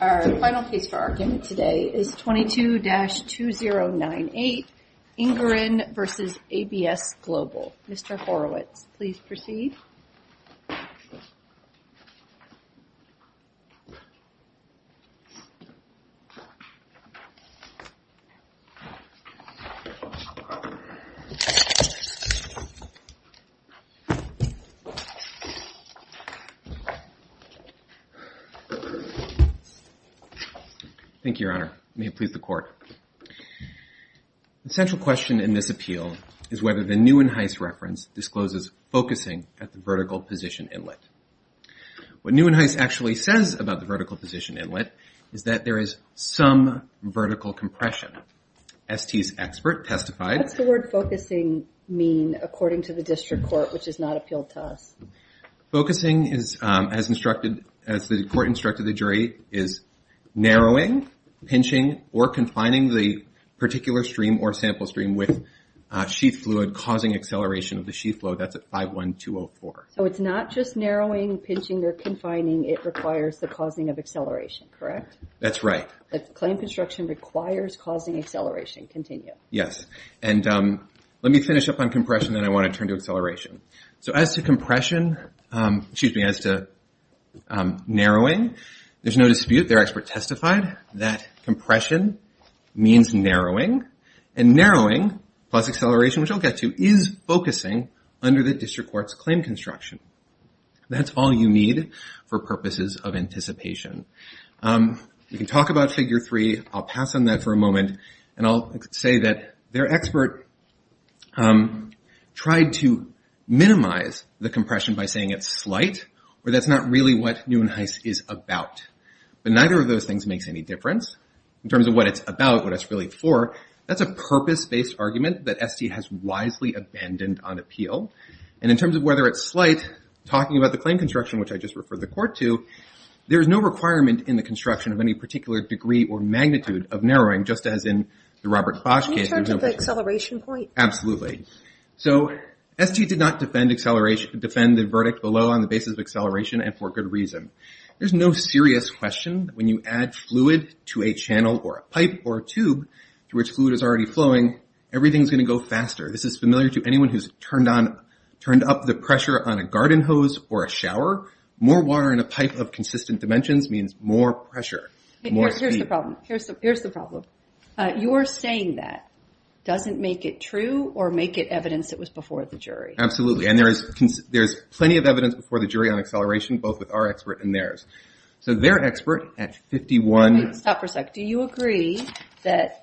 Our final case for argument today is 22-2098 Inguran v. ABS Global. Mr. Horowitz, please proceed. Thank you, Your Honor. May it please the court. The central question in this appeal is whether the Neuenheis reference discloses focusing at the vertical position inlet. What Neuenheis actually says about the vertical position inlet is that there is some vertical compression. ST's expert testified. What's the word focusing mean according to the district court which is not appealed to us? Focusing as the court instructed the jury is narrowing, pinching, or confining the particular stream or sample stream with sheath fluid causing acceleration of the sheath flow. That's at 51204. So it's not just narrowing, pinching, or confining. It requires the causing of acceleration, correct? That's right. The claim construction requires causing acceleration. Continue. Yes. And let me finish up on compression and I want to turn to acceleration. So as to compression, excuse me, as to narrowing, there's no dispute. Their expert testified that compression means narrowing and narrowing plus acceleration, which I'll get to, is focusing under the district court's claim construction. That's all you need for purposes of anticipation. You can talk about figure three. I'll pass on that for a moment. And I'll say that their expert tried to minimize the compression by saying it's slight or that's not really what Neuenheis is about. But neither of those things makes any difference in terms of what it's about, what it's really for. That's a purpose-based argument that ST has wisely abandoned on appeal. And in terms of whether it's slight, talking about the claim construction, which I just referred the court to, there's no requirement in the construction of any particular degree or magnitude of narrowing, just as in the Robert Bosch case. Can you turn to the acceleration point? Absolutely. So ST did not defend the verdict below on the basis of acceleration and for good reason. There's no serious question that when you add fluid to a channel or a pipe or a tube to which fluid is already flowing, everything's going to go faster. This is familiar to anyone who's turned up the pressure on a garden hose or a shower. More water in a pipe of consistent dimensions means more pressure, more speed. Here's the problem. You're saying that doesn't make it true or make it evidence it was before the jury? Absolutely. And there's plenty of evidence before the jury on acceleration, both with our expert and theirs. So their expert at 51… Wait, stop for a sec. Do you agree that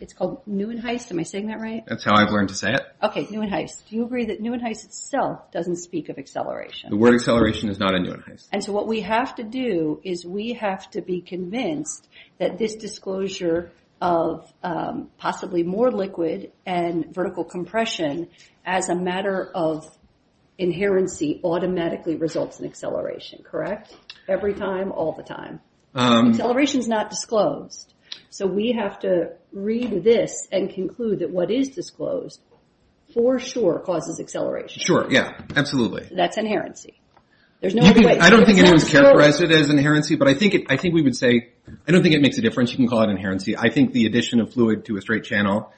it's called Neuenheis? Am I saying that right? That's how I've learned to say it. Okay, Neuenheis. Do you agree that Neuenheis itself doesn't speak of acceleration? The word acceleration is not in Neuenheis. And so what we have to do is we have to be convinced that this disclosure of possibly more liquid and vertical compression as a matter of inherency automatically results in acceleration, correct? Every time, all the time. Acceleration is not disclosed. So we have to read this and conclude that what is disclosed for sure causes acceleration. Sure, yeah, absolutely. That's inherency. There's no other way. I don't think anyone's characterized it as inherency, but I think we would say… I don't think it makes a difference. You can call it inherency. I think the addition of fluid to a straight channel,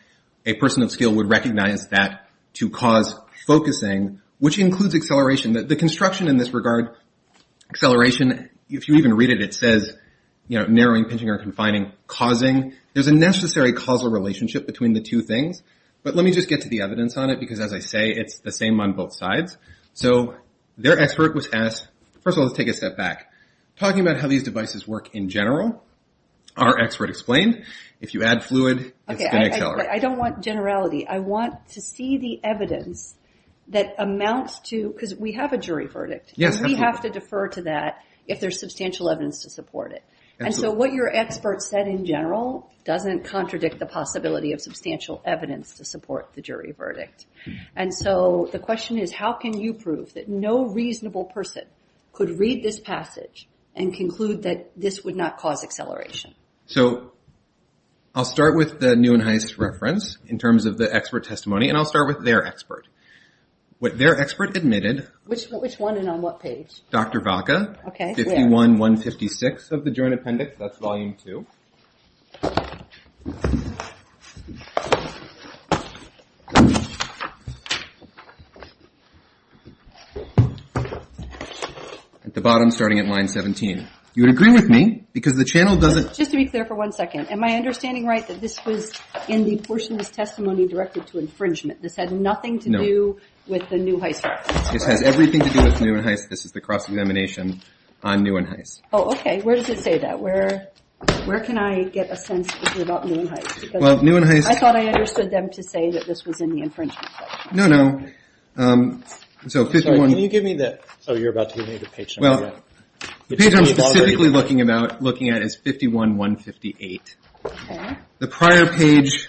a person of skill would recognize that to cause focusing, which includes acceleration. The construction in this regard, acceleration, if you even read it, it says narrowing, pinching, or confining. There's a necessary causal relationship between the two things. But let me just get to the evidence on it, because as I say, it's the same on both sides. So their expert was asked… First of all, let's take a step back. Talking about how these devices work in general, our expert explained, if you add fluid, it's going to accelerate. I don't want generality. I want to see the evidence that amounts to… Because we have a jury verdict, and we have to defer to that if there's substantial evidence to support it. And so what your expert said in general doesn't contradict the possibility of substantial evidence to support the jury verdict. And so the question is, how can you prove that no reasonable person could read this passage and conclude that this would not cause acceleration? So I'll start with the new and highest reference in terms of the expert testimony, and I'll start with their expert. What their expert admitted… Which one and on what page? Dr. Vaca, 51-156 of the joint appendix. That's volume two. At the bottom, starting at line 17. You would agree with me, because the channel doesn't… Just to be clear for one second, am I understanding right that this was in the portion of this testimony directed to infringement? This had nothing to do with the new Heist reference? This has everything to do with the new Heist. This is the cross-examination on new and Heist. Oh, okay. Where does it say that? Where can I get a sense about new and Heist? I thought I understood them to say that this was in the infringement section. Can you give me the page number? The page I'm specifically looking at is 51-158. The prior page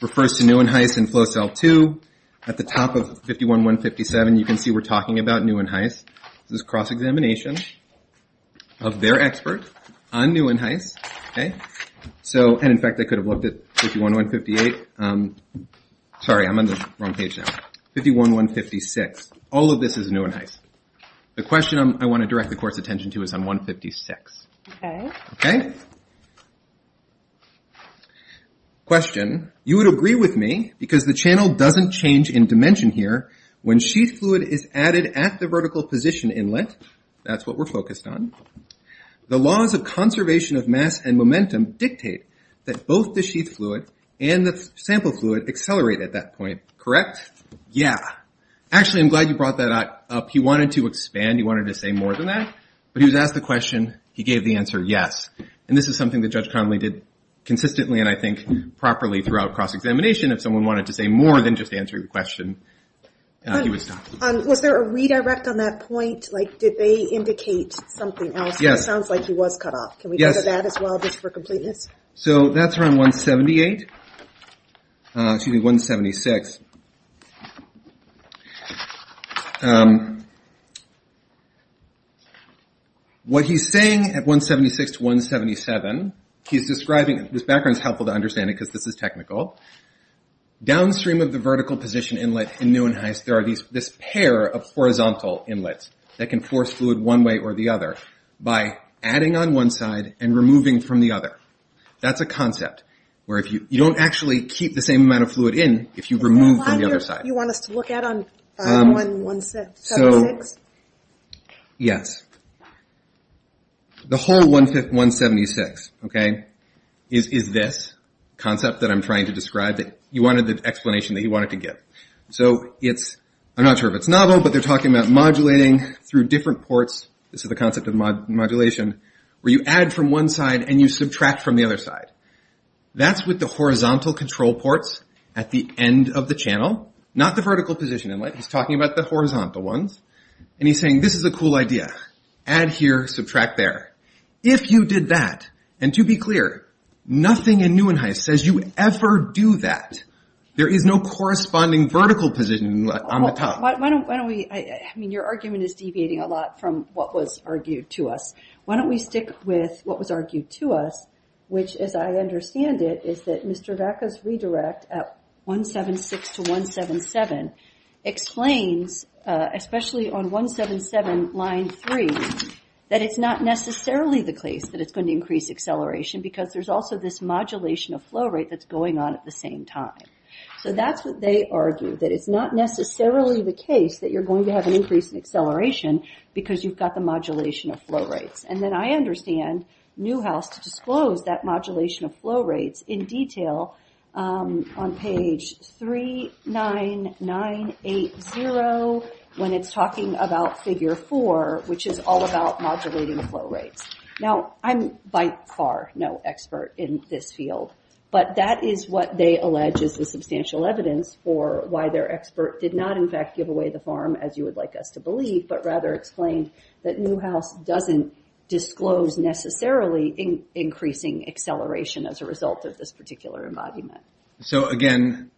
refers to new and Heist in flow cell two. At the top of 51-157, you can see we're talking about new and Heist. This is cross-examination of their expert on new and Heist. In fact, I could have looked at 51-158. Sorry, I'm on the wrong page now. 51-156. All of this is new and Heist. The question I want to direct the Court's attention to is on 156. Okay. Question. You would agree with me because the channel doesn't change in dimension here when sheath fluid is added at the vertical position inlet. That's what we're focused on. The laws of conservation of mass and momentum dictate that both the sheath fluid and the sample fluid accelerate at that point, correct? Yes. Yeah. Actually, I'm glad you brought that up. He wanted to expand. He wanted to say more than that, but he was asked the question. He gave the answer yes. This is something that Judge Connolly did consistently and I think properly throughout cross-examination. If someone wanted to say more than just answering the question, he would stop. Was there a redirect on that point? Did they indicate something else? It sounds like he was cut off. Can we go to that as well just for completeness? That's around 176. What he's saying at 176-177, he's describing, this background is helpful to understand because this is technical. Downstream of the vertical position inlet in new and Heist there are this pair of horizontal inlets that can force fluid one way or the other by adding on one side and removing from the other. That's a concept where you don't actually keep the same amount of fluid in if you remove from the other side. Is that what you want us to look at on 176? Yes. The whole 176 is this concept that I'm trying to describe. You wanted the explanation that you wanted to give. I'm not sure if it's novel, but they're talking about modulating through different ports. This is the concept of modulation where you add from one side and you subtract from the other side. That's with the horizontal control ports at the end of the channel, not the vertical position inlet. He's talking about the horizontal ones. He's saying this is a cool idea. Add here, subtract there. If you did that, and to be clear, nothing in new and Heist says you ever do that. There is no corresponding vertical position inlet on the top. Your argument is deviating a lot from what was argued to us. Why don't we stick with what was argued to us? Which, as I understand it, is that Mr. Vaca's redirect at 176 to 177 explains, especially on 177 line 3, that it's not necessarily the case that it's going to increase acceleration because there's also this modulation of flow rate that's going on at the same time. That's what they argue, that it's not necessarily the case that you're going to have an increase in acceleration because you've got the modulation of flow rates. Then I understand Newhouse to disclose that modulation of flow rates in detail on page 39980 when it's talking about figure 4, which is all about modulating flow rates. I'm by far no expert in this field, but that is what they allege is the substantial evidence for why their expert did not in fact give away the farm, as you would like us to believe, but rather explained that Newhouse doesn't disclose necessarily increasing acceleration as a result of this particular embodiment. Again,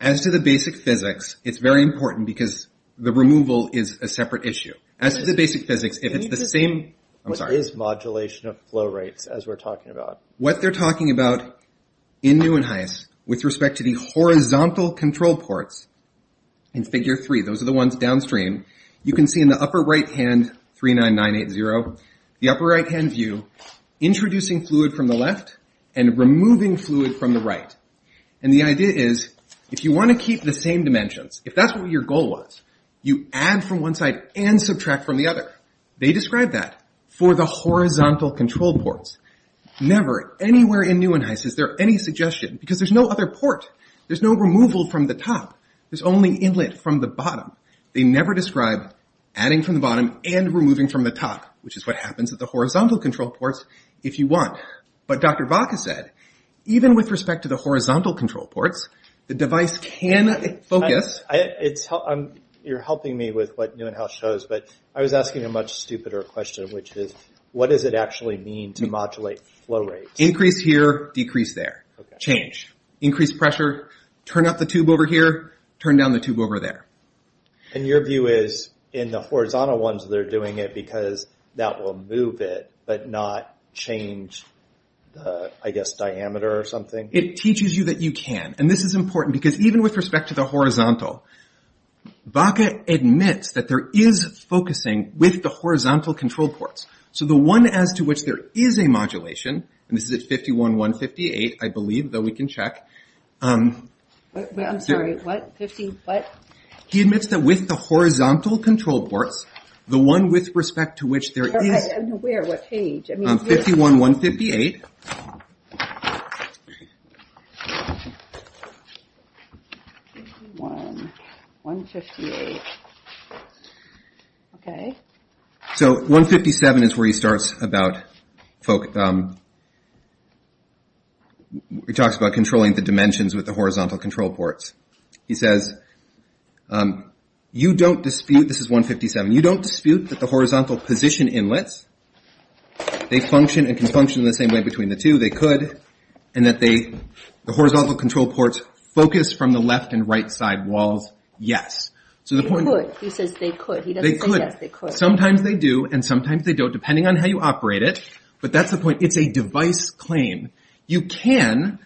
as to the basic physics, it's very important because the removal is a separate issue. What they're talking about in Newhouse with respect to the horizontal control ports in figure 3, those are the ones downstream, you can see in the upper right hand, 39980, the upper right hand view introducing fluid from the left and removing fluid from the right. The idea is if you want to keep the same dimensions, if that's what your goal was, you add from one side and subtract from the other. They describe that for the horizontal control ports. Never anywhere in Newhouse is there any suggestion because there's no other port. There's no removal from the top. There's only inlet from the bottom. They never describe adding from the bottom and removing from the top, which is what happens at the horizontal control ports if you want. But Dr. Vaca said, even with respect to the horizontal control ports, the device can focus. You're helping me with what Newhouse shows, but I was asking a much stupider question, which is, what does it actually mean to modulate flow rates? Increase here, decrease there. Change. Increase pressure, turn up the tube over here, turn down the tube over there. Your view is in the horizontal ones, they're doing it because that will move it but not change, I guess, diameter or something? It teaches you that you can. This is important because even with respect to the horizontal, Vaca admits that there is focusing with the horizontal control ports. The one as to which there is a modulation, and this is at 51.158, I believe, though we can check. I'm sorry, what? He admits that with the horizontal control ports, the one with respect to which there is... Where, what page? 51.158. Okay. So 157 is where he talks about controlling the dimensions with the horizontal control ports. He says, you don't dispute, this is 157, you don't dispute that the horizontal position inlets, they function and can function in the same way between the two, they could, and that the horizontal control ports focus from the left and right side walls, yes. They could. He says they could. They could. Sometimes they do and sometimes they don't, depending on how you operate it. But that's the point. It's a device claim. You can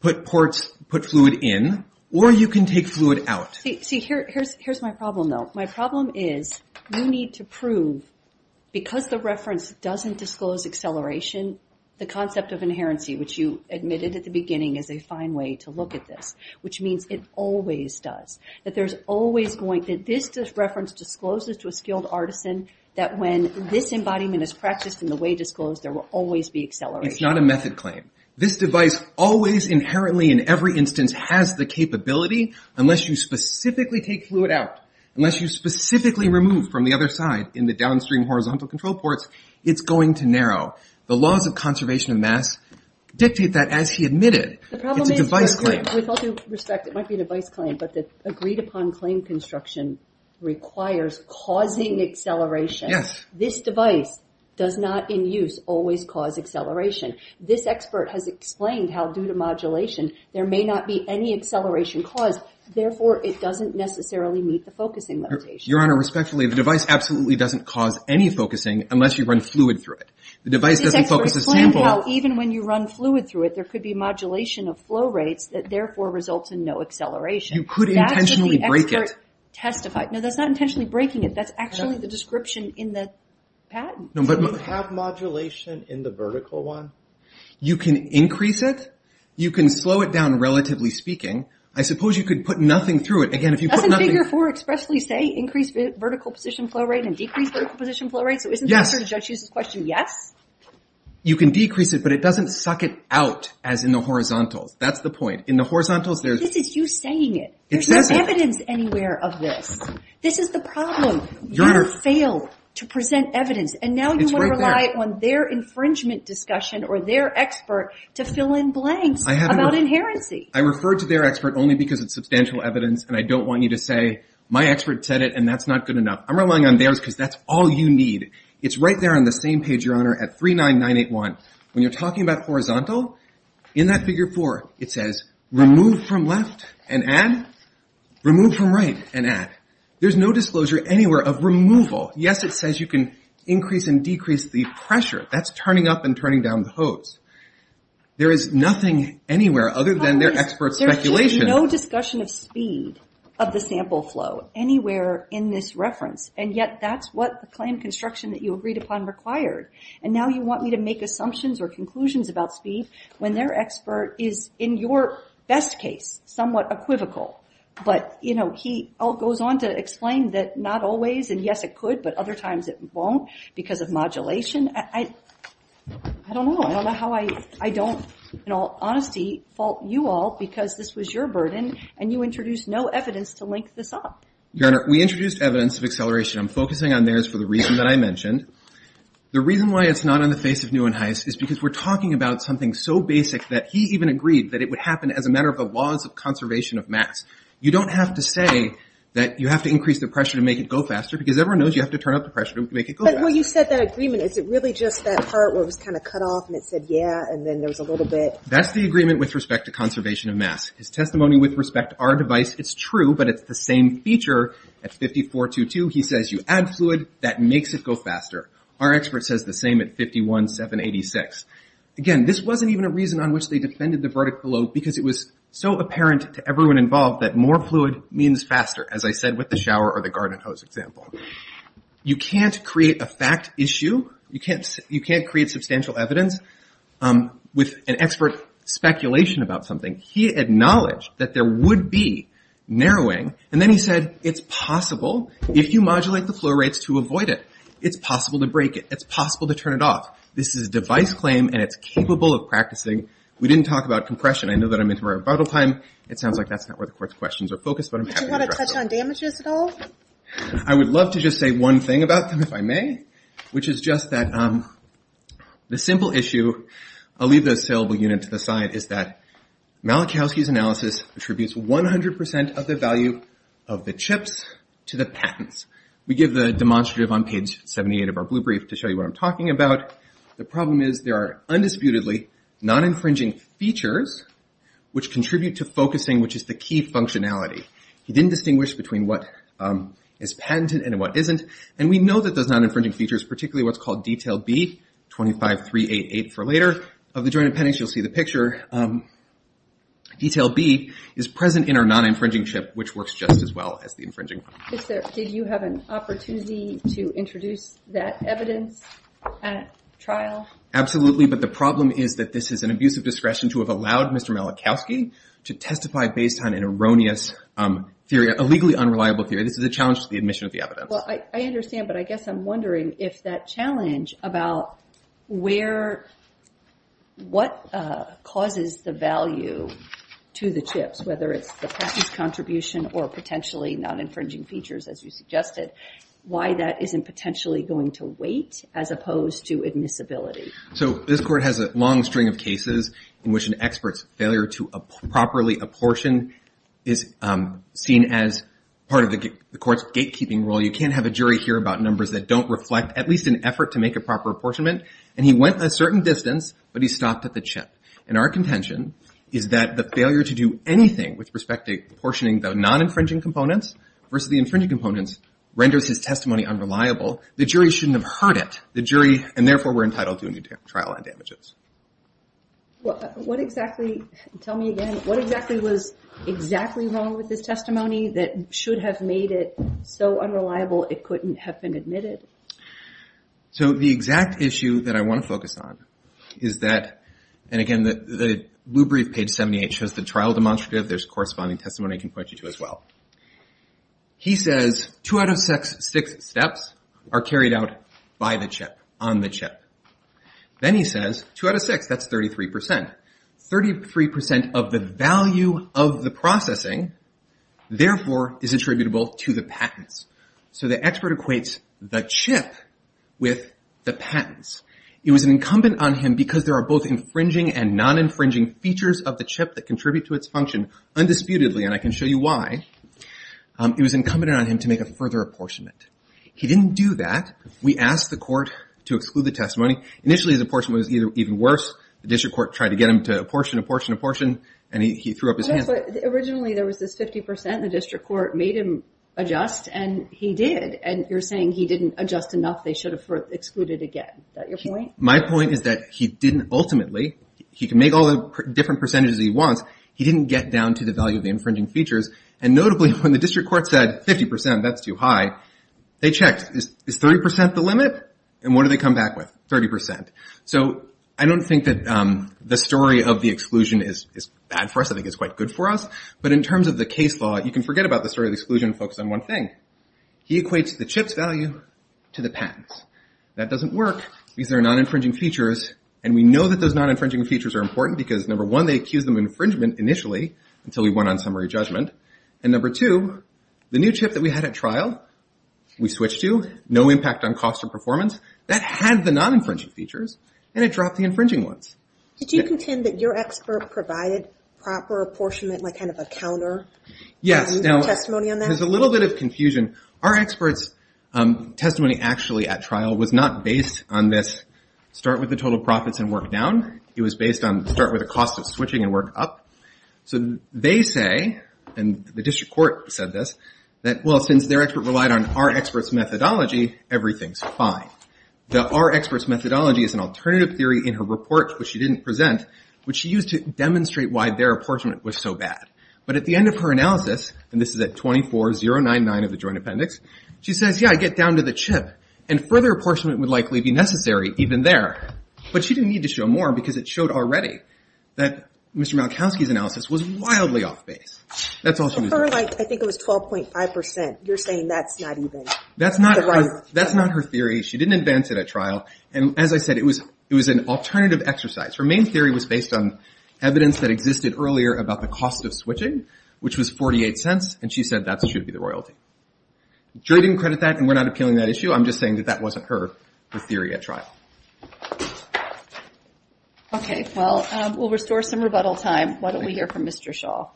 put ports, put fluid in, or you can take fluid out. See, here's my problem, though. My problem is you need to prove, because the reference doesn't disclose acceleration, the concept of inherency, which you admitted at the beginning is a fine way to look at this, which means it always does, that there's always going to, this reference discloses to a skilled artisan that when this embodiment is practiced and the way disclosed, there will always be acceleration. It's not a method claim. This device always inherently in every instance has the capability, unless you specifically take fluid out, unless you specifically remove from the other side in the downstream horizontal control ports, it's going to narrow. The laws of conservation of mass dictate that as he admitted. It's a device claim. The problem is, with all due respect, it might be a device claim, but the agreed upon claim construction requires causing acceleration. Yes. This device does not in use always cause acceleration. This expert has explained how, due to modulation, there may not be any acceleration caused, therefore, it doesn't necessarily meet the focusing limitation. Your Honor, respectfully, the device absolutely doesn't cause any focusing unless you run fluid through it. The device doesn't focus a sample. This expert explained how, even when you run fluid through it, there could be modulation of flow rates that, therefore, results in no acceleration. You could intentionally break it. That's what the expert testified. No, that's not intentionally breaking it. That's actually the description in the patent. Does it have modulation in the vertical one? You can increase it. You can slow it down, relatively speaking. I suppose you could put nothing through it. Again, if you put nothing through it. Doesn't Figure 4 expressly say increase vertical position flow rate and decrease vertical position flow rate? Yes. So isn't the answer to Judge Hughes' question yes? You can decrease it, but it doesn't suck it out, as in the horizontals. That's the point. In the horizontals, there's… This is you saying it. There's no evidence anywhere of this. This is the problem. You fail to present evidence. And now you want to rely on their infringement discussion or their expert to fill in blanks about inherency. I referred to their expert only because it's substantial evidence, and I don't want you to say my expert said it, and that's not good enough. I'm relying on theirs because that's all you need. It's right there on the same page, Your Honor, at 39981. When you're talking about horizontal, in that Figure 4, it says remove from left and add, remove from right and add. There's no disclosure anywhere of removal. Yes, it says you can increase and decrease the pressure. That's turning up and turning down the hose. There is nothing anywhere other than their expert's speculation. There is no discussion of speed of the sample flow anywhere in this reference, and yet that's what the claim construction that you agreed upon required. And now you want me to make assumptions or conclusions about speed when their expert is, in your best case, somewhat equivocal. But, you know, he goes on to explain that not always, and yes, it could, but other times it won't because of modulation. I don't know. I don't know how I don't, in all honesty, fault you all because this was your burden and you introduced no evidence to link this up. Your Honor, we introduced evidence of acceleration. I'm focusing on theirs for the reason that I mentioned. The reason why it's not on the face of Nuenhuis is because we're talking about something so basic that he even agreed that it would happen as a matter of the laws of conservation of mass. You don't have to say that you have to increase the pressure to make it go faster because everyone knows you have to turn up the pressure to make it go faster. But when you said that agreement, is it really just that part where it was kind of cut off and it said, yeah, and then there was a little bit? That's the agreement with respect to conservation of mass. His testimony with respect to our device, it's true, but it's the same feature at 54.22. He says you add fluid, that makes it go faster. Our expert says the same at 51.786. Again, this wasn't even a reason on which they defended the verdict below because it was so apparent to everyone involved that more fluid means faster, as I said with the shower or the garden hose example. You can't create a fact issue. You can't create substantial evidence with an expert speculation about something. He acknowledged that there would be narrowing, and then he said it's possible, if you modulate the flow rates, to avoid it. It's possible to break it. It's possible to turn it off. This is a device claim, and it's capable of practicing. We didn't talk about compression. I know that I'm into my rebuttal time. It sounds like that's not where the court's questions are focused, but I'm happy to address it. Do you want to touch on damages at all? I would love to just say one thing about them, if I may, which is just that the simple issue, I'll leave the saleable unit to the side, is that Malachowski's analysis attributes 100% of the value of the chips to the patents. We give the demonstrative on page 78 of our blue brief to show you what I'm talking about. The problem is there are undisputedly non-infringing features which contribute to focusing, which is the key functionality. He didn't distinguish between what is patented and what isn't, and we know that those non-infringing features, particularly what's called Detail B, 25388 for later, of the joint appendix, you'll see the picture. Detail B is present in our non-infringing chip, which works just as well as the infringing one. Did you have an opportunity to introduce that evidence at trial? Absolutely, but the problem is that this is an abuse of discretion to have allowed Mr. Malachowski to testify based on an erroneous theory, a legally unreliable theory. This is a challenge to the admission of the evidence. I understand, but I guess I'm wondering if that challenge about what causes the value to the chips, whether it's the patent's contribution or potentially non-infringing features, as you suggested, why that isn't potentially going to wait as opposed to admissibility. This court has a long string of cases in which an expert's failure to properly apportion is seen as part of the court's gatekeeping role. You can't have a jury hear about numbers that don't reflect at least an effort to make a proper apportionment, and he went a certain distance, but he stopped at the chip. Our contention is that the failure to do anything with respect to apportioning the non-infringing components versus the infringing components renders his testimony unreliable. The jury shouldn't have heard it, and therefore we're entitled to a new trial on damages. Tell me again, what exactly was exactly wrong with his testimony that should have made it so unreliable it couldn't have been admitted? So the exact issue that I want to focus on is that, and again, the blue brief, page 78, shows the trial demonstrative. There's corresponding testimony I can point you to as well. He says two out of six steps are carried out by the chip, on the chip. Then he says two out of six, that's 33%. Thirty-three percent of the value of the processing, therefore, is attributable to the patents. So the expert equates the chip with the patents. It was incumbent on him, because there are both infringing and non-infringing features of the chip that contribute to its function undisputedly, and I can show you why, it was incumbent on him to make a further apportionment. He didn't do that. We asked the court to exclude the testimony. Initially, his apportionment was even worse. The district court tried to get him to apportion, apportion, apportion, and he threw up his hands. Originally, there was this 50%. The district court made him adjust, and he did. And you're saying he didn't adjust enough. They should have excluded again. Is that your point? My point is that he didn't, ultimately, he can make all the different percentages he wants. He didn't get down to the value of the infringing features. And notably, when the district court said 50%, that's too high, they checked. Is 30% the limit? And what did they come back with? 30%. So I don't think that the story of the exclusion is bad for us. I think it's quite good for us. But in terms of the case law, you can forget about the story of the exclusion and focus on one thing. He equates the chip's value to the patents. That doesn't work because there are non-infringing features, and we know that those non-infringing features are important because, number one, they accuse them of infringement initially until we went on summary judgment, and number two, the new chip that we had at trial, we switched to, no impact on cost or performance, that had the non-infringing features, and it dropped the infringing ones. Did you contend that your expert provided proper apportionment, like kind of a counter testimony on that? Yes. There's a little bit of confusion. Our expert's testimony actually at trial was not based on this start with the total profits and work down. It was based on start with the cost of switching and work up. So they say, and the district court said this, that, well, since their expert relied on our expert's methodology, everything's fine. Our expert's methodology is an alternative theory in her report, which she didn't present, which she used to demonstrate why their apportionment was so bad. But at the end of her analysis, and this is at 24.099 of the joint appendix, she says, yeah, I get down to the chip, and further apportionment would likely be necessary even there. But she didn't need to show more because it showed already that Mr. Malkowski's analysis was wildly off base. That's all she was doing. I think it was 12.5%. You're saying that's not even the right one. That's not her theory. She didn't advance it at trial. And as I said, it was an alternative exercise. Her main theory was based on evidence that existed earlier about the cost of switching, which was 48 cents, and she said that should be the royalty. The jury didn't credit that, and we're not appealing that issue. I'm just saying that that wasn't her theory at trial. Okay. Well, we'll restore some rebuttal time. Why don't we hear from Mr. Schall.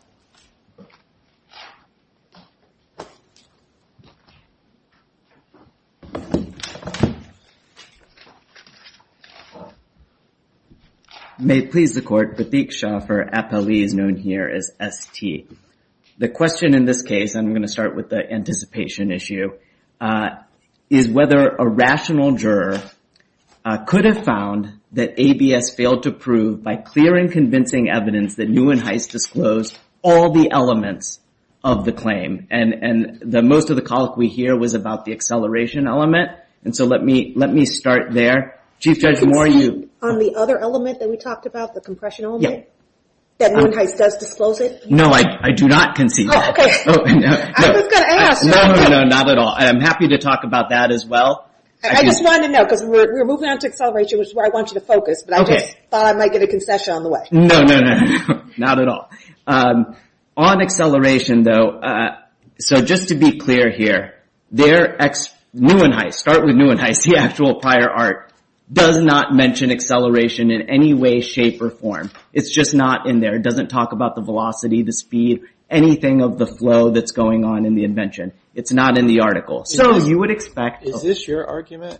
May it please the Court, Batik Schall for APOE is known here as ST. The question in this case, and I'm going to start with the anticipation issue, is whether a rational juror could have found that ABS failed to prove, by clear and convincing evidence, that Neuenhuis disclosed all the elements of the claim. And most of the colloquy here was about the acceleration element. And so let me start there. Chief Judge, more on you. Conceded on the other element that we talked about, the compression element? Yeah. That Neuenhuis does disclose it? No, I do not concede that. Oh, okay. I was going to ask. No, no, no, not at all. I'm happy to talk about that as well. I just wanted to know, because we're moving on to acceleration, which is where I want you to focus. But I just thought I might get a concession on the way. No, no, no, not at all. On acceleration, though, so just to be clear here, Neuenhuis, start with Neuenhuis, the actual prior art, does not mention acceleration in any way, shape, or form. It's just not in there. It doesn't talk about the velocity, the speed, anything of the flow that's going on in the invention. It's not in the article. So you would expect. Is this your argument?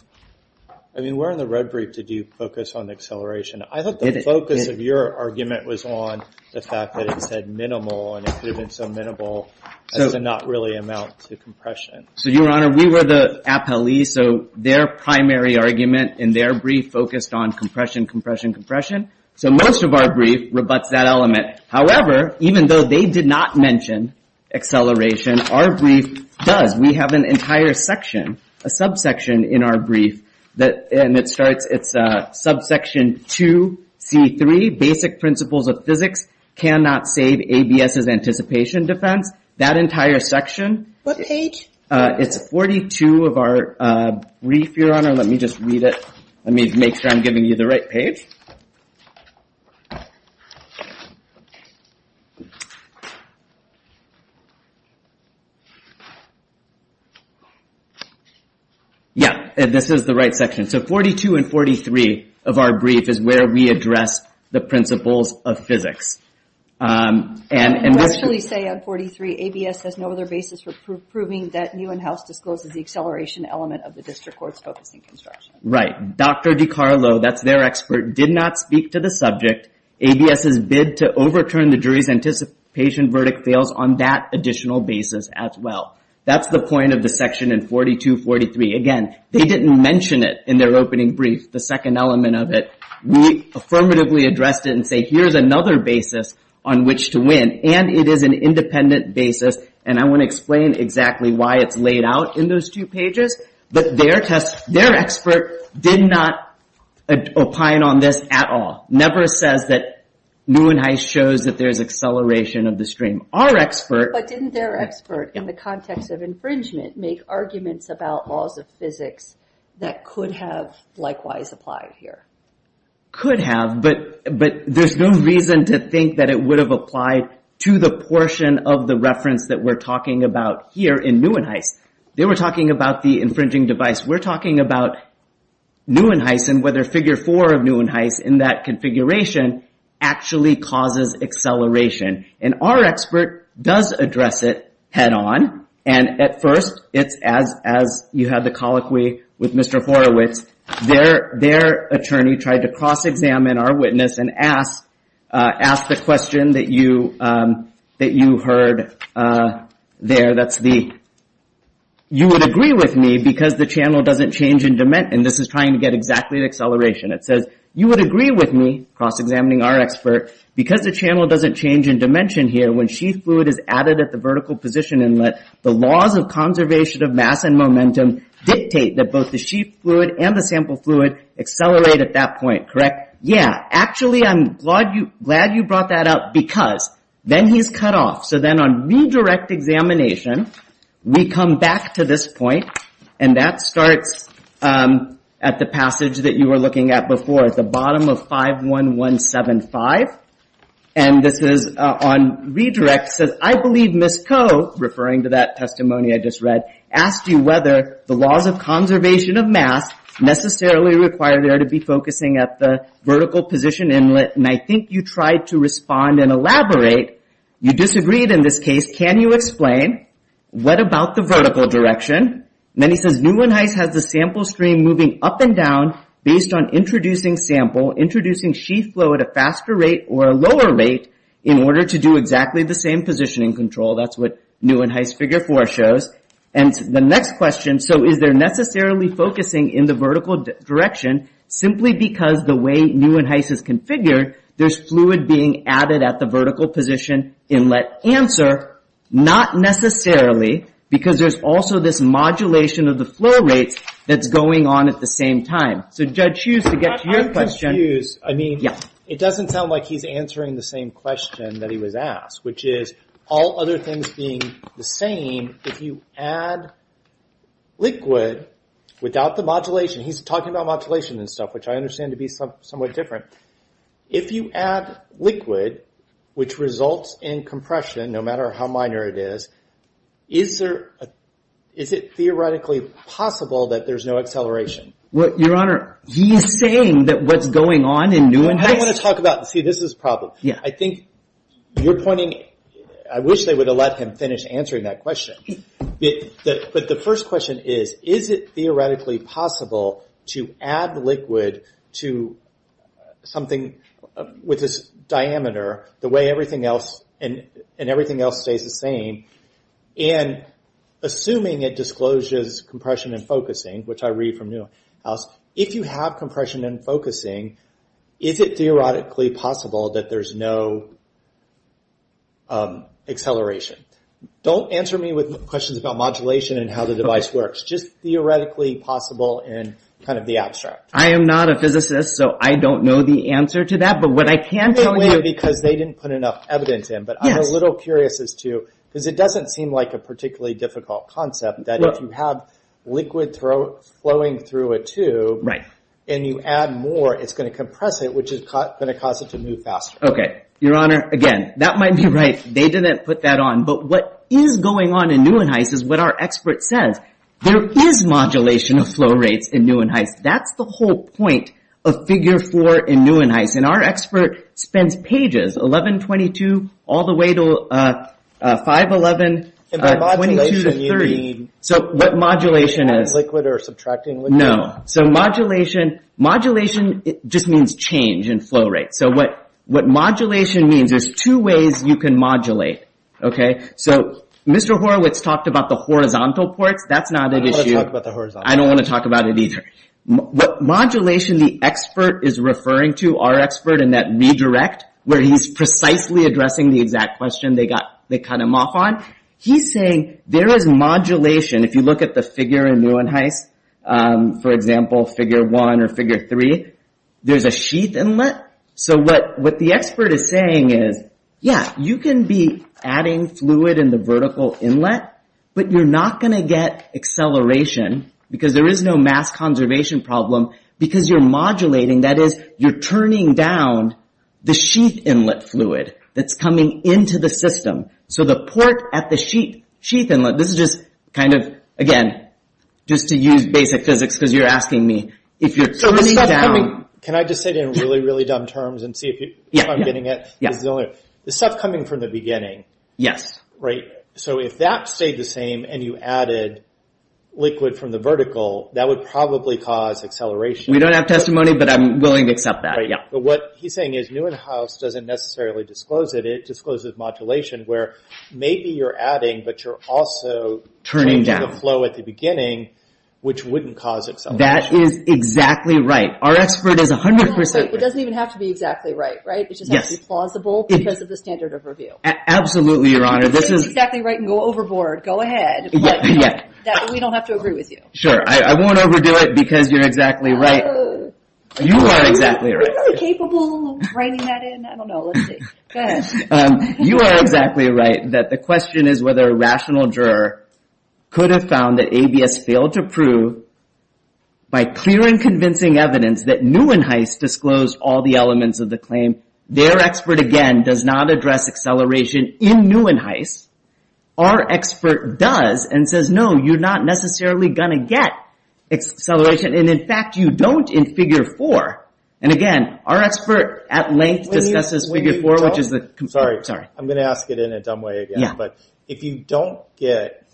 I mean, where in the road brief did you focus on acceleration? I thought the focus of your argument was on the fact that it said minimal, and it could have been so minimal as to not really amount to compression. So, Your Honor, we were the appellee, so their primary argument in their brief focused on compression, compression, compression. So most of our brief rebuts that element. However, even though they did not mention acceleration, our brief does. We have an entire section, a subsection in our brief, and it starts, it's subsection 2C3, Basic Principles of Physics Cannot Save ABS's Anticipation Defense. That entire section. What page? It's 42 of our brief, Your Honor. Let me just read it. Let me make sure I'm giving you the right page. Yeah, this is the right section. So 42 and 43 of our brief is where we address the principles of physics. And we actually say on 43, ABS has no other basis for proving that new in-house discloses the acceleration element of the district court's focusing construction. Right. Dr. DiCarlo, that's their expert, did not speak to the subject. ABS's bid to overturn the jury's anticipation verdict fails on that additional basis as well. That's the point of the section in 42, 43. Again, they didn't mention it in their opening brief, the second element of it. We affirmatively addressed it and say here's another basis on which to win. And it is an independent basis. And I want to explain exactly why it's laid out in those two pages. But their test, their expert did not opine on this at all. Never says that new in-house shows that there's acceleration of the stream. Our expert. But didn't their expert in the context of infringement make arguments about laws of physics that could have likewise applied here? Could have. But there's no reason to think that it would have applied to the portion of the reference that we're talking about here in new in-house. They were talking about the infringing device. We're talking about new in-house and whether figure four of new in-house in that configuration actually causes acceleration. And our expert does address it head on. And at first, it's as you had the colloquy with Mr. Horowitz. Their attorney tried to cross-examine our witness and ask the question that you heard there. You would agree with me because the channel doesn't change in dimension. And this is trying to get exactly the acceleration. It says, you would agree with me, cross-examining our expert, because the channel doesn't change in dimension here when sheath fluid is added at the vertical position inlet, the laws of conservation of mass and momentum dictate that both the sheath fluid and the sample fluid accelerate at that point. Correct? Yeah. Actually, I'm glad you brought that up because then he's cut off. So then on redirect examination, we come back to this point. And that starts at the passage that you were looking at before, at the bottom of 51175. And this is on redirect. It says, I believe Ms. Koh, referring to that testimony I just read, asked you whether the laws of conservation of mass necessarily require there to be focusing at the vertical position inlet. And I think you tried to respond and elaborate. You disagreed in this case. Can you explain? What about the vertical direction? And then he says, Neuwenhuis has the sample stream moving up and down based on introducing sample, introducing sheath flow at a faster rate or a lower rate, in order to do exactly the same positioning control. That's what Neuwenhuis figure 4 shows. And the next question, so is there necessarily focusing in the vertical direction simply because the way Neuwenhuis has configured, there's fluid being added at the vertical position inlet. Answer, not necessarily because there's also this modulation of the flow rates that's going on at the same time. So Judge Hughes, to get to your question. I'm confused. I mean, it doesn't sound like he's answering the same question that he was asked, which is all other things being the same, if you add liquid without the modulation, he's talking about modulation and stuff, which I understand to be somewhat different. If you add liquid, which results in compression, no matter how minor it is, is it theoretically possible that there's no acceleration? Your Honor, he's saying that what's going on in Neuwenhuis. I want to talk about, see, this is the problem. I think you're pointing, I wish they would have let him finish answering that question. But the first question is, is it theoretically possible to add liquid to something with this diameter, the way everything else stays the same, and assuming it discloses compression and focusing, which I read from Neuwenhuis, if you have compression and focusing, is it theoretically possible that there's no acceleration? Don't answer me with questions about modulation and how the device works. Just theoretically possible and kind of the abstract. I am not a physicist, so I don't know the answer to that. But what I can tell you… They didn't put enough evidence in, but I'm a little curious as to, because it doesn't seem like a particularly difficult concept that if you have liquid flowing through a tube and you add more, it's going to compress it, which is going to cause it to move faster. Okay. Your Honor, again, that might be right. They didn't put that on. But what is going on in Neuwenhuis is what our expert says. There is modulation of flow rates in Neuwenhuis. That's the whole point of Figure 4 in Neuwenhuis. And our expert spends pages, 11, 22, all the way to 5, 11, 22 to 30. And by modulation you mean… So what modulation is… Liquid or subtracting liquid? No. So modulation just means change in flow rate. So what modulation means, there's two ways you can modulate. Okay. So Mr. Horowitz talked about the horizontal ports. That's not an issue. I don't want to talk about the horizontal ports. I don't want to talk about it either. Modulation, the expert is referring to, our expert in that redirect, where he's precisely addressing the exact question they cut him off on, he's saying there is modulation. If you look at the figure in Neuwenhuis, for example, Figure 1 or Figure 3, there's a sheath inlet. So what the expert is saying is, yeah, you can be adding fluid in the vertical inlet, but you're not going to get acceleration because there is no mass conservation problem because you're modulating, that is, you're turning down the sheath inlet fluid that's coming into the system. So the port at the sheath inlet, this is just kind of, again, just to use basic physics because you're asking me, if you're turning down… Can I just say it in really, really dumb terms and see if I'm getting it? Yes. The stuff coming from the beginning. Yes. Right? So if that stayed the same and you added liquid from the vertical, that would probably cause acceleration. We don't have testimony, but I'm willing to accept that, yeah. But what he's saying is Neuwenhuis doesn't necessarily disclose it. It discloses modulation where maybe you're adding, but you're also changing the flow at the beginning, which wouldn't cause acceleration. That is exactly right. Our expert is 100%… It doesn't even have to be exactly right, right? It just has to be plausible because of the standard of review. Absolutely, Your Honor. This is… If it's exactly right and go overboard, go ahead. But we don't have to agree with you. Sure. I won't overdo it because you're exactly right. You are exactly right. Are we really capable of writing that in? I don't know. Let's see. Go ahead. You are exactly right that the question is whether a rational juror could have found that ABS failed to prove, by clear and convincing evidence, that Neuwenhuis disclosed all the elements of the claim. Their expert, again, does not address acceleration in Neuwenhuis. Our expert does and says, no, you're not necessarily going to get acceleration. In fact, you don't in Figure 4. Again, our expert, at length, discusses Figure 4, which is the… Sorry. I'm going to ask it in a dumb way again. Yeah. If you don't get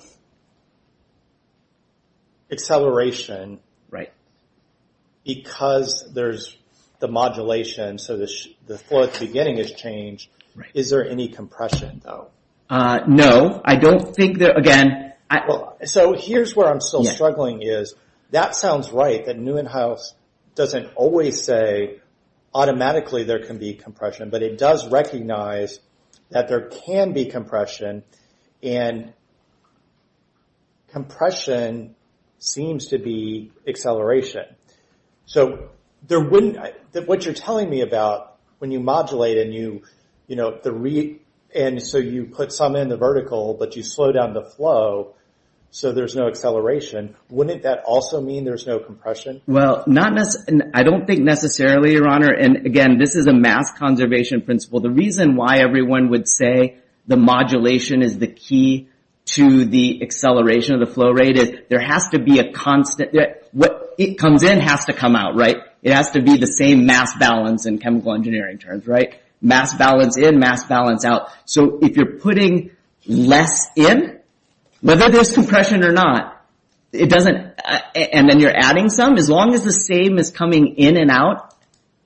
acceleration because there's the modulation, so the fourth beginning is changed, is there any compression, though? No. I don't think there… Again… Here's where I'm still struggling is, that sounds right that Neuwenhuis doesn't always say, automatically, there can be compression, but it does recognize that there can be compression, and compression seems to be acceleration. So what you're telling me about, when you modulate and so you put something in the vertical, but you slow down the flow so there's no acceleration, wouldn't that also mean there's no compression? Well, I don't think necessarily, Your Honor. And again, this is a mass conservation principle. The reason why everyone would say the modulation is the key to the acceleration of the flow rate is, there has to be a constant… What comes in has to come out, right? It has to be the same mass balance in chemical engineering terms, right? Mass balance in, mass balance out. So if you're putting less in, whether there's compression or not, and then you're adding some, as long as the same is coming in and out,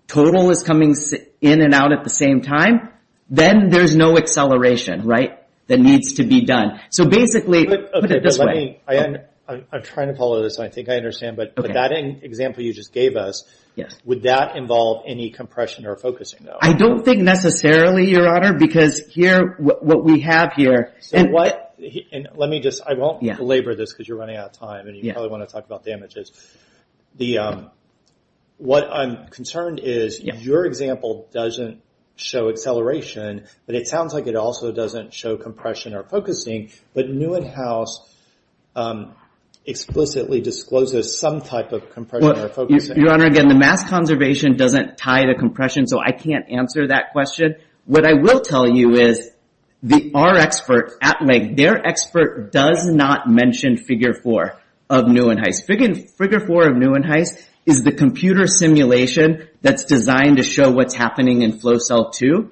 total is coming in and out at the same time, then there's no acceleration that needs to be done. So basically, put it this way… I'm trying to follow this, and I think I understand, but that example you just gave us, would that involve any compression or focusing, though? I don't think necessarily, Your Honor, because here, what we have here… Let me just… I won't belabor this because you're running out of time, and you probably want to talk about damages. What I'm concerned is, your example doesn't show acceleration, but it sounds like it also doesn't show compression or focusing, but Newenhouse explicitly discloses some type of compression or focusing. Your Honor, again, the mass conservation doesn't tie to compression, so I can't answer that question. What I will tell you is, our expert, Atleg, their expert does not mention Figure 4 of Newenhouse. Figure 4 of Newenhouse is the computer simulation that's designed to show what's happening in flow cell 2,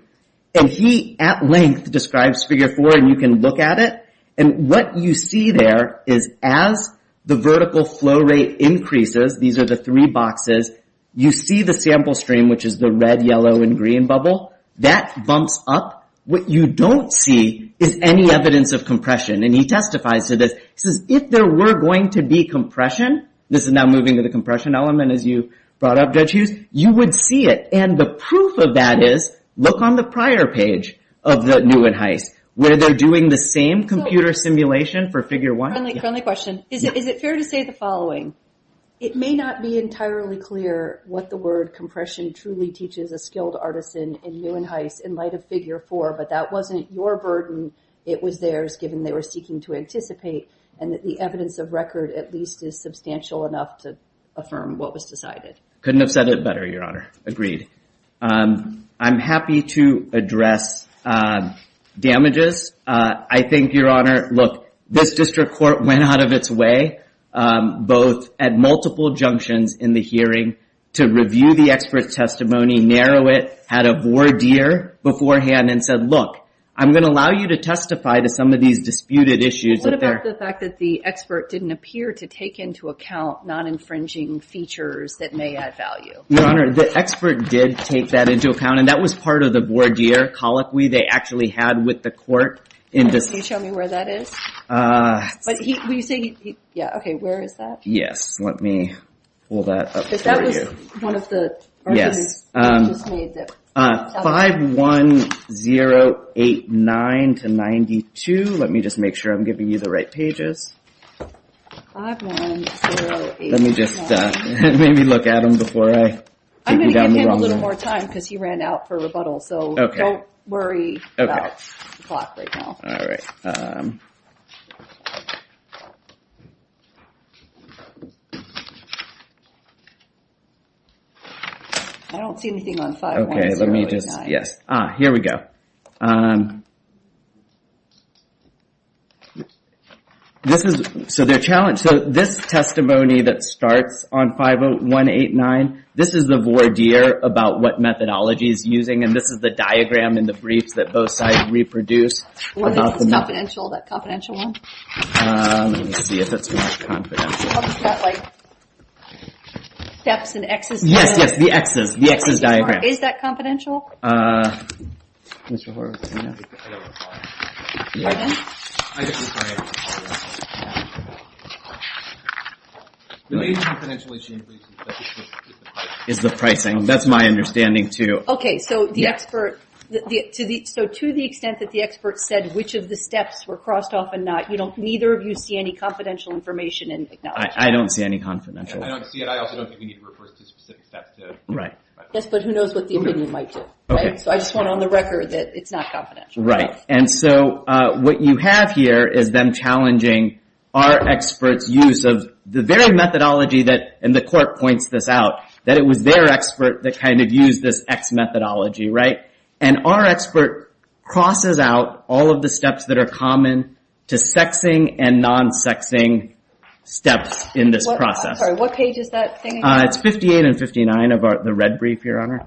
and he, at length, describes Figure 4, and you can look at it, and what you see there is, as the vertical flow rate increases, these are the three boxes, you see the sample stream, which is the red, yellow, and green bubble. That bumps up. What you don't see is any evidence of compression, and he testifies to this. He says, if there were going to be compression, this is now moving to the compression element, as you brought up, Judge Hughes, you would see it, and the proof of that is, look on the prior page of the Newenhouse, where they're doing the same computer simulation for Figure 1. Friendly question. Is it fair to say the following? It may not be entirely clear what the word compression truly teaches a skilled artisan in Newenhouse in light of Figure 4, but that wasn't your burden. It was theirs, given they were seeking to anticipate, and that the evidence of record, at least, is substantial enough to affirm what was decided. Couldn't have said it better, Your Honor. Agreed. I'm happy to address damages. I think, Your Honor, look, this district court went out of its way, both at multiple junctions in the hearing to review the expert's testimony, narrow it, had a voir dire beforehand, and said, look, I'm going to allow you to testify to some of these disputed issues. What about the fact that the expert didn't appear to take into account non-infringing features that may add value? Your Honor, the expert did take that into account, and that was part of the voir dire colloquy they actually had with the court. Can you show me where that is? Will you say... Yeah, okay, where is that? Yes, let me pull that up for you. That was one of the... Yes. 51089-92. Let me just make sure I'm giving you the right pages. 51089... Let me just maybe look at them before I... I'm going to give him a little more time, because he ran out for rebuttal, so don't worry about the clock right now. All right. I don't see anything on 51089. Okay, let me just... Yes. Ah, here we go. This is... So their challenge... So this testimony that starts on 51089, this is the voir dire about what methodology is using, and this is the diagram in the briefs that both sides reproduce about the... What is this confidential, that confidential one? Let me see if that's confidential. Is that like steps in X's diagram? Yes, yes, the X's, the X's diagram. Is that confidential? Mr. Horowitz, do you know? I don't know. Pardon? I just... The main confidential issue is the pricing. Is the pricing. That's my understanding, too. Okay, so the expert... So to the extent that the expert said which of the steps were crossed off and not, neither of you see any confidential information and acknowledge that. I don't see any confidential. I don't see it. I also don't think we need to refer to specific steps to... Right. Yes, but who knows what the opinion might do, right? So I just want on the record that it's not confidential. Right. And so what you have here is them challenging our expert's use of the very methodology that... And the court points this out, that it was their expert that kind of used this X methodology, right? And our expert crosses out all of the steps that are common to sexing and non-sexing steps in this process. I'm sorry. What page is that thing? It's 58 and 59 of the red brief, Your Honor.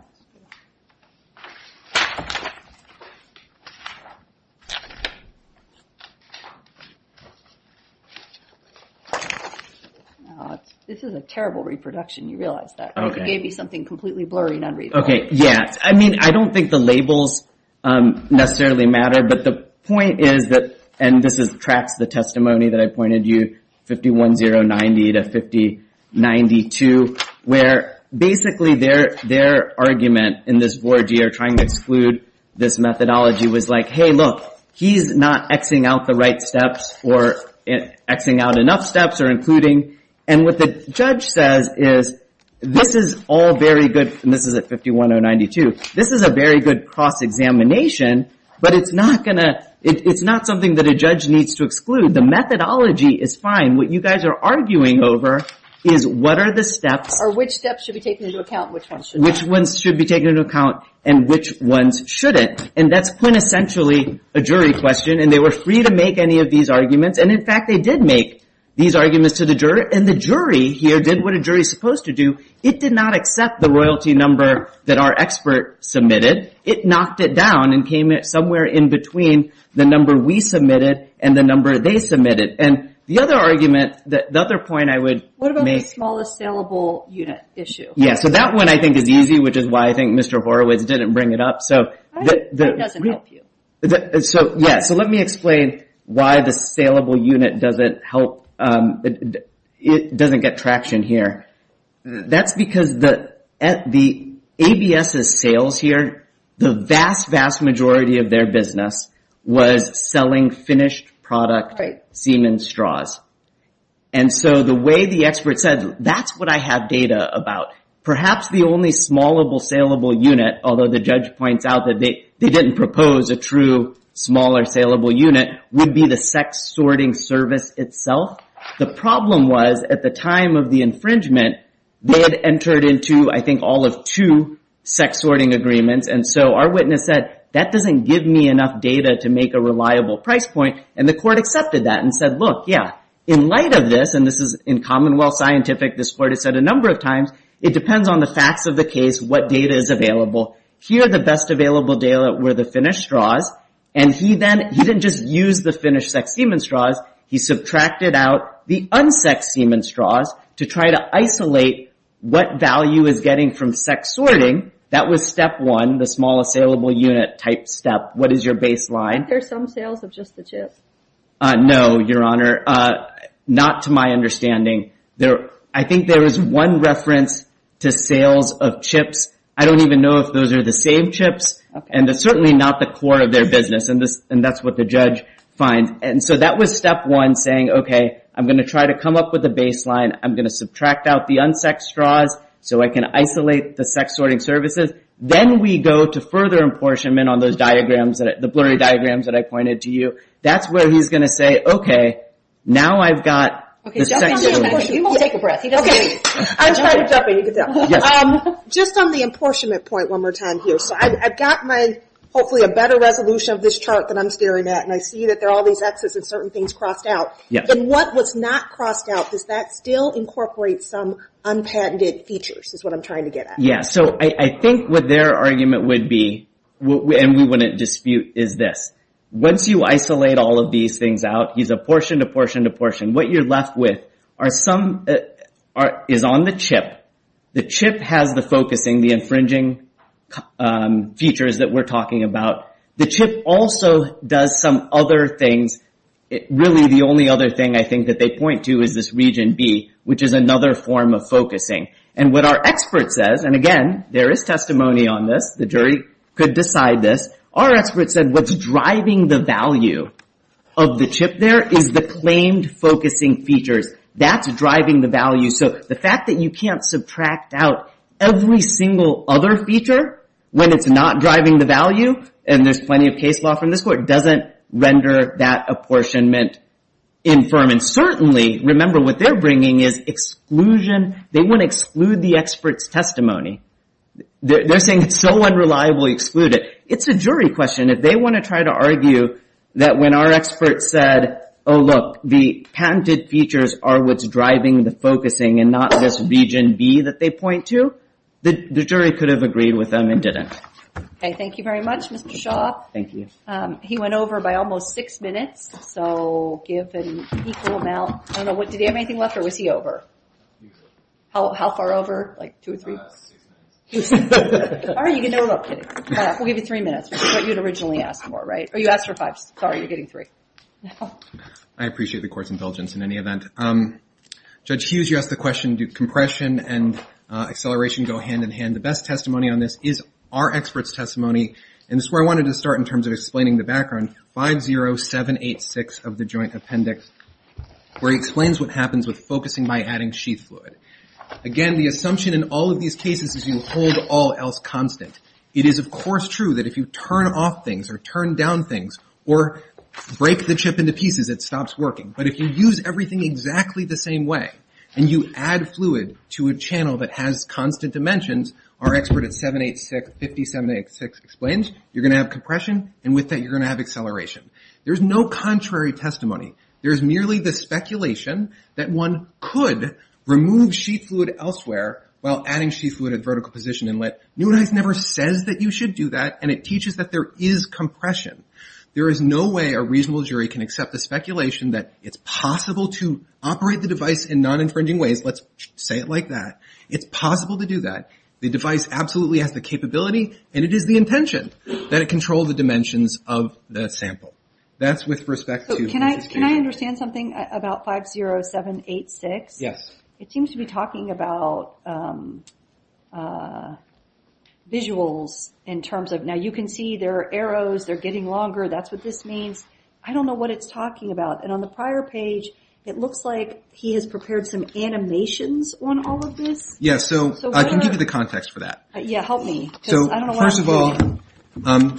This is a terrible reproduction. You realize that. Okay. It gave me something completely blurry and unreadable. Okay, yeah. I mean, I don't think the labels necessarily matter, but the point is that... And this tracks the testimony that I pointed you, 51-090 to 50-92, where basically their argument in this voir dire trying to exclude this methodology was like, hey, look, he's not X-ing out the right steps or X-ing out enough steps or including... And what the judge says is, this is all very good, and this is at 51-092. This is a very good cross-examination, but it's not something that a judge needs to exclude. The methodology is fine. What you guys are arguing over is what are the steps... Or which steps should be taken into account and which ones shouldn't. Which ones should be taken into account and which ones shouldn't. And that's quintessentially a jury question, and they were free to make any of these arguments. And in fact, they did make these arguments to the juror, and the jury here did what a jury's supposed to do. It did not accept the royalty number that our expert submitted. It knocked it down and came somewhere in between the number we submitted and the number they submitted. And the other argument, the other point I would make... What about the smallest saleable unit issue? Yeah, so that one I think is easy, which is why I think Mr. Horowitz didn't bring it up. I think that doesn't help you. So, yeah, so let me explain why the saleable unit doesn't get traction here. That's because the ABS's sales here, the vast, vast majority of their business was selling finished product semen straws. And so the way the expert said, that's what I have data about. Perhaps the only smallable saleable unit, although the judge points out that they didn't propose a true smaller saleable unit, would be the sex-sorting service itself. The problem was, at the time of the infringement, they had entered into, I think, all of two sex-sorting agreements. And so our witness said, that doesn't give me enough data to make a reliable price point. And the court accepted that and said, look, yeah, in light of this, and this is in Commonwealth Scientific, this court has said a number of times, it depends on the facts of the case what data is available. Here, the best available data were the finished straws. And he then, he didn't just use the finished sex semen straws, he subtracted out the un-sexed semen straws to try to isolate what value is getting from sex-sorting. That was step one, the small saleable unit type step. What is your baseline? Are there some sales of just the chips? No, Your Honor. Not to my understanding. I think there is one reference to sales of chips. I don't even know if those are the same chips. And they're certainly not the core of their business. And that's what the judge finds. And so that was step one, saying, okay, I'm going to try to come up with a baseline. I'm going to subtract out the un-sexed straws so I can isolate the sex-sorting services. Then we go to further apportionment on those diagrams, the blurry diagrams that I pointed to you. That's where he's going to say, okay, now I've got the sex-sorting. Okay, jump on the apportionment. You won't take a breath. Okay, I'll try to jump in. Just on the apportionment point one more time here. I've got, hopefully, a better resolution of this chart than I'm staring at. And I see that there are all these Xs and certain things crossed out. And what was not crossed out, does that still incorporate some unpatented features is what I'm trying to get at. Yeah, so I think what their argument would be, and we wouldn't dispute, is this. Once you isolate all of these things out, he's apportioned, apportioned, apportioned. What you're left with is on the chip. The chip has the focusing, the infringing features that we're talking about. The chip also does some other things. Really, the only other thing, I think, that they point to is this region B, which is another form of focusing. And what our expert says, and again, there is testimony on this. The jury could decide this. Our expert said what's driving the value of the chip there is the claimed focusing features. That's driving the value. So the fact that you can't subtract out every single other feature when it's not driving the value, and there's plenty of case law from this court, doesn't render that apportionment infirm. And certainly, remember what they're bringing is exclusion. They want to exclude the expert's testimony. They're saying it's so unreliably excluded. It's a jury question. If they want to try to argue that when our expert said, oh look, the patented features are what's driving the focusing and not this region B that they point to, the jury could have agreed with them and didn't. Okay, thank you very much, Mr. Shaw. Thank you. He went over by almost six minutes, so give an equal amount. Did he have anything left, or was he over? How far over? Like two or three? Six minutes. All right, you can do it without kidding. We'll give you three minutes, which is what you had originally asked for, right? Oh, you asked for fives. Sorry, you're getting three. I appreciate the court's indulgence in any event. Judge Hughes, you asked the question, do compression and acceleration go hand in hand? The best testimony on this is our expert's testimony, and this is where I wanted to start in terms of explaining the background, 50786 of the Joint Appendix, where he explains what happens with focusing by adding sheath fluid. Again, the assumption in all of these cases is you hold all else constant. It is, of course, true that if you turn off things or turn down things or break the chip into pieces, it stops working, but if you use everything exactly the same way and you add fluid to a channel that has constant dimensions, our expert at 786, 50786, explains, you're going to have compression, and with that, you're going to have acceleration. There's no contrary testimony. There's merely the speculation that one could remove sheath fluid elsewhere while adding sheath fluid at vertical position inlet. Newneiss never says that you should do that, and it teaches that there is compression. There is no way a reasonable jury can accept the speculation that it's possible to operate the device in non-infringing ways. Let's say it like that. It's possible to do that. The device absolutely has the capability, and it is the intention that it control the dimensions of the sample. That's with respect to... Can I understand something about 50786? Yes. It seems to be talking about visuals in terms of... Now, you can see there are arrows. They're getting longer. That's what this means. I don't know what it's talking about, and on the prior page, it looks like he has prepared some animations on all of this. Yes, so I can give you the context for that. Yeah, help me, because I don't know what I'm doing. First of all,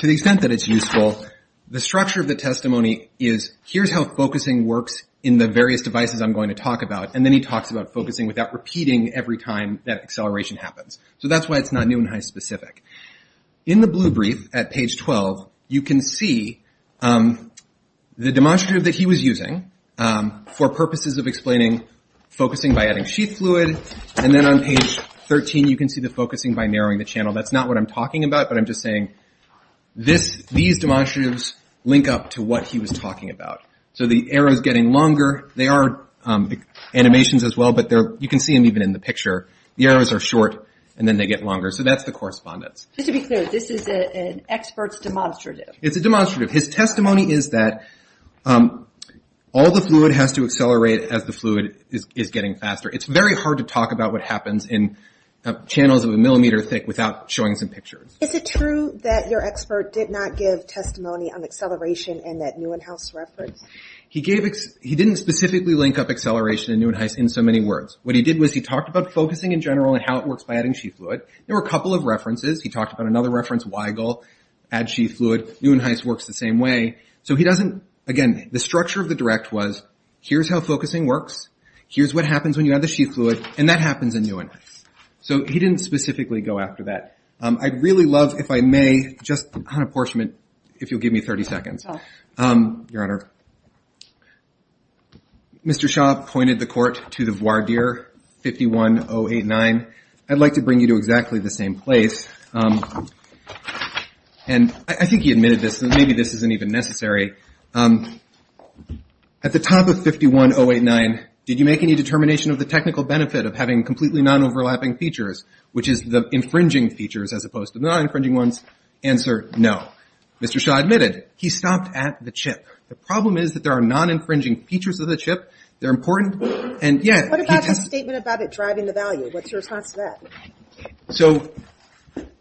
to the extent that it's useful, the structure of the testimony is, here's how focusing works in the various devices I'm going to talk about, and then he talks about focusing without repeating every time that acceleration happens. So that's why it's not new and high specific. In the blue brief at page 12, you can see the demonstrative that he was using for purposes of explaining focusing by adding sheet fluid, and then on page 13, you can see the focusing by narrowing the channel. That's not what I'm talking about, but I'm just saying these demonstratives link up to what he was talking about. So the arrow's getting longer. They are animations as well, but you can see them even in the picture. The arrows are short, and then they get longer. So that's the correspondence. Just to be clear, this is an expert's demonstrative. It's a demonstrative. His testimony is that all the fluid has to accelerate as the fluid is getting faster. It's very hard to talk about what happens in channels of a millimeter thick without showing some pictures. Is it true that your expert did not give testimony on acceleration in that Neuenhuis reference? He didn't specifically link up acceleration and Neuenhuis in so many words. What he did was he talked about focusing in general and how it works by adding sheath fluid. There were a couple of references. He talked about another reference, Weigel, add sheath fluid. Neuenhuis works the same way. So he doesn't, again, the structure of the direct was here's how focusing works, here's what happens when you add the sheath fluid, and that happens in Neuenhuis. So he didn't specifically go after that. I'd really love, if I may, just on apportionment, if you'll give me 30 seconds. Your Honor. Mr. Shaw pointed the court to the voir dire 51089. I'd like to bring you to exactly the same place. And I think he admitted this. Maybe this isn't even necessary. At the top of 51089, did you make any determination of the technical benefit of having completely non-overlapping features, which is the infringing features as opposed to the non-infringing ones? Answer, no. Mr. Shaw admitted. He stopped at the chip. The problem is that there are non-infringing features of the chip. They're important. What about the statement about it driving the value? What's your response to that?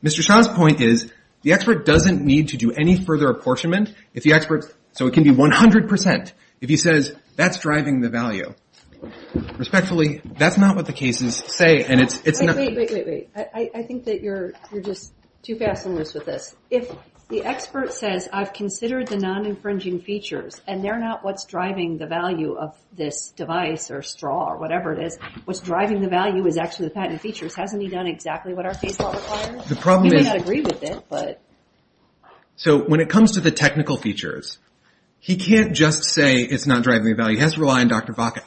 Mr. Shaw's point is, the expert doesn't need to do any further apportionment. So it can be 100% if he says, that's driving the value. Respectfully, that's not what the cases say. Wait, wait, wait. I think that you're just too fast and loose with this. If the expert says, I've considered the non-infringing features, and they're not what's driving the value of this device or straw or whatever it is, what's driving the value is actually the patented features. Hasn't he done exactly what our case law requires? He may not agree with it, but... So when it comes to the technical features, he can't just say it's not driving the value. He has to rely on Dr. Vaca.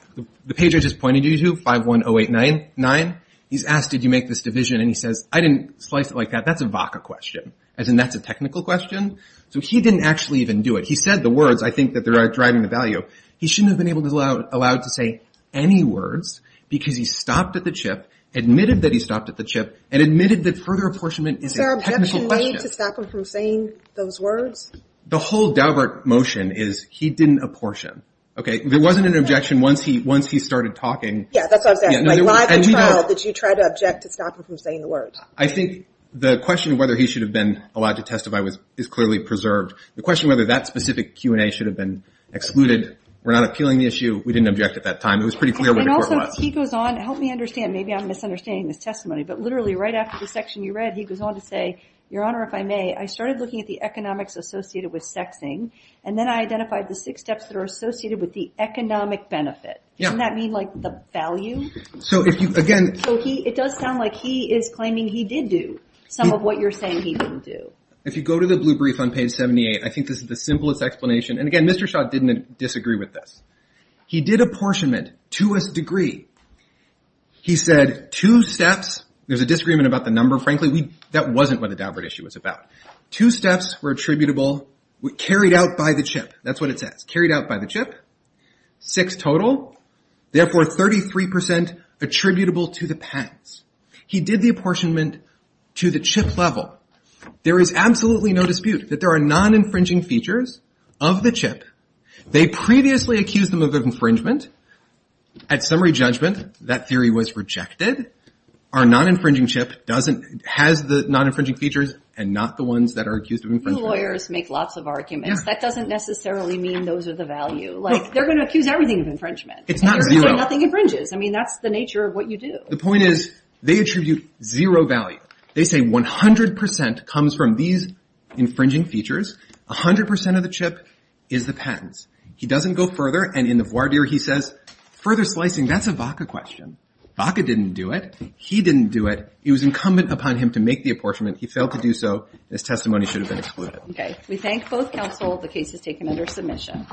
The page I just pointed you to, 51089, he's asked, did you make this division? And he says, I didn't slice it like that. That's a Vaca question, as in that's a technical question. So he didn't actually even do it. He said the words, I think, that are driving the value. He shouldn't have been allowed to say any words because he stopped at the chip, admitted that he stopped at the chip, and admitted that further apportionment is a technical question. Is there an objection made to stop him from saying those words? The whole Daubert motion is he didn't apportion. Okay? There wasn't an objection once he started talking. Yeah, that's what I was asking. Why the trial did you try to object to stop him from saying the words? I think the question of whether he should have been allowed to testify is clearly preserved. The question of whether that specific Q&A should have been excluded. We're not appealing the issue. We didn't object at that time. It was pretty clear where the court was. And also, he goes on, help me understand, maybe I'm misunderstanding this testimony, but literally right after the section you read, he goes on to say, Your Honor, if I may, I started looking at the economics associated with sexing, and then I identified the six steps that are associated with the economic benefit. Yeah. Doesn't that mean, like, the value? So if you, again... So it does sound like he is claiming he did do some of what you're saying he didn't do. If you go to the blue brief on page 78, I think this is the simplest explanation. And again, Mr. Schott didn't disagree with this. He did apportionment to a degree. He said two steps. There's a disagreement about the number, frankly. That wasn't what the Daubert issue was about. Two steps were attributable, carried out by the chip. That's what it says. Carried out by the chip. Six total. Therefore, 33% attributable to the pens. He did the apportionment to the chip level. There is absolutely no dispute that there are non-infringing features of the chip. They previously accused them of infringement. At summary judgment, that theory was rejected. Our non-infringing chip doesn't... has the non-infringing features and not the ones that are accused of infringement. Lawyers make lots of arguments. That doesn't necessarily mean those are the value. Like, they're going to accuse everything of infringement. It's not zero. Nothing infringes. I mean, that's the nature of what you do. The point is, they attribute zero value. They say 100% comes from these infringing features. 100% of the chip is the pens. He doesn't go further. And in the voir dire, he says, further slicing. That's a Vaca question. Vaca didn't do it. He didn't do it. It was incumbent upon him to make the apportionment. He failed to do so. This testimony should have been excluded. We thank both counsel. The case is taken under submission.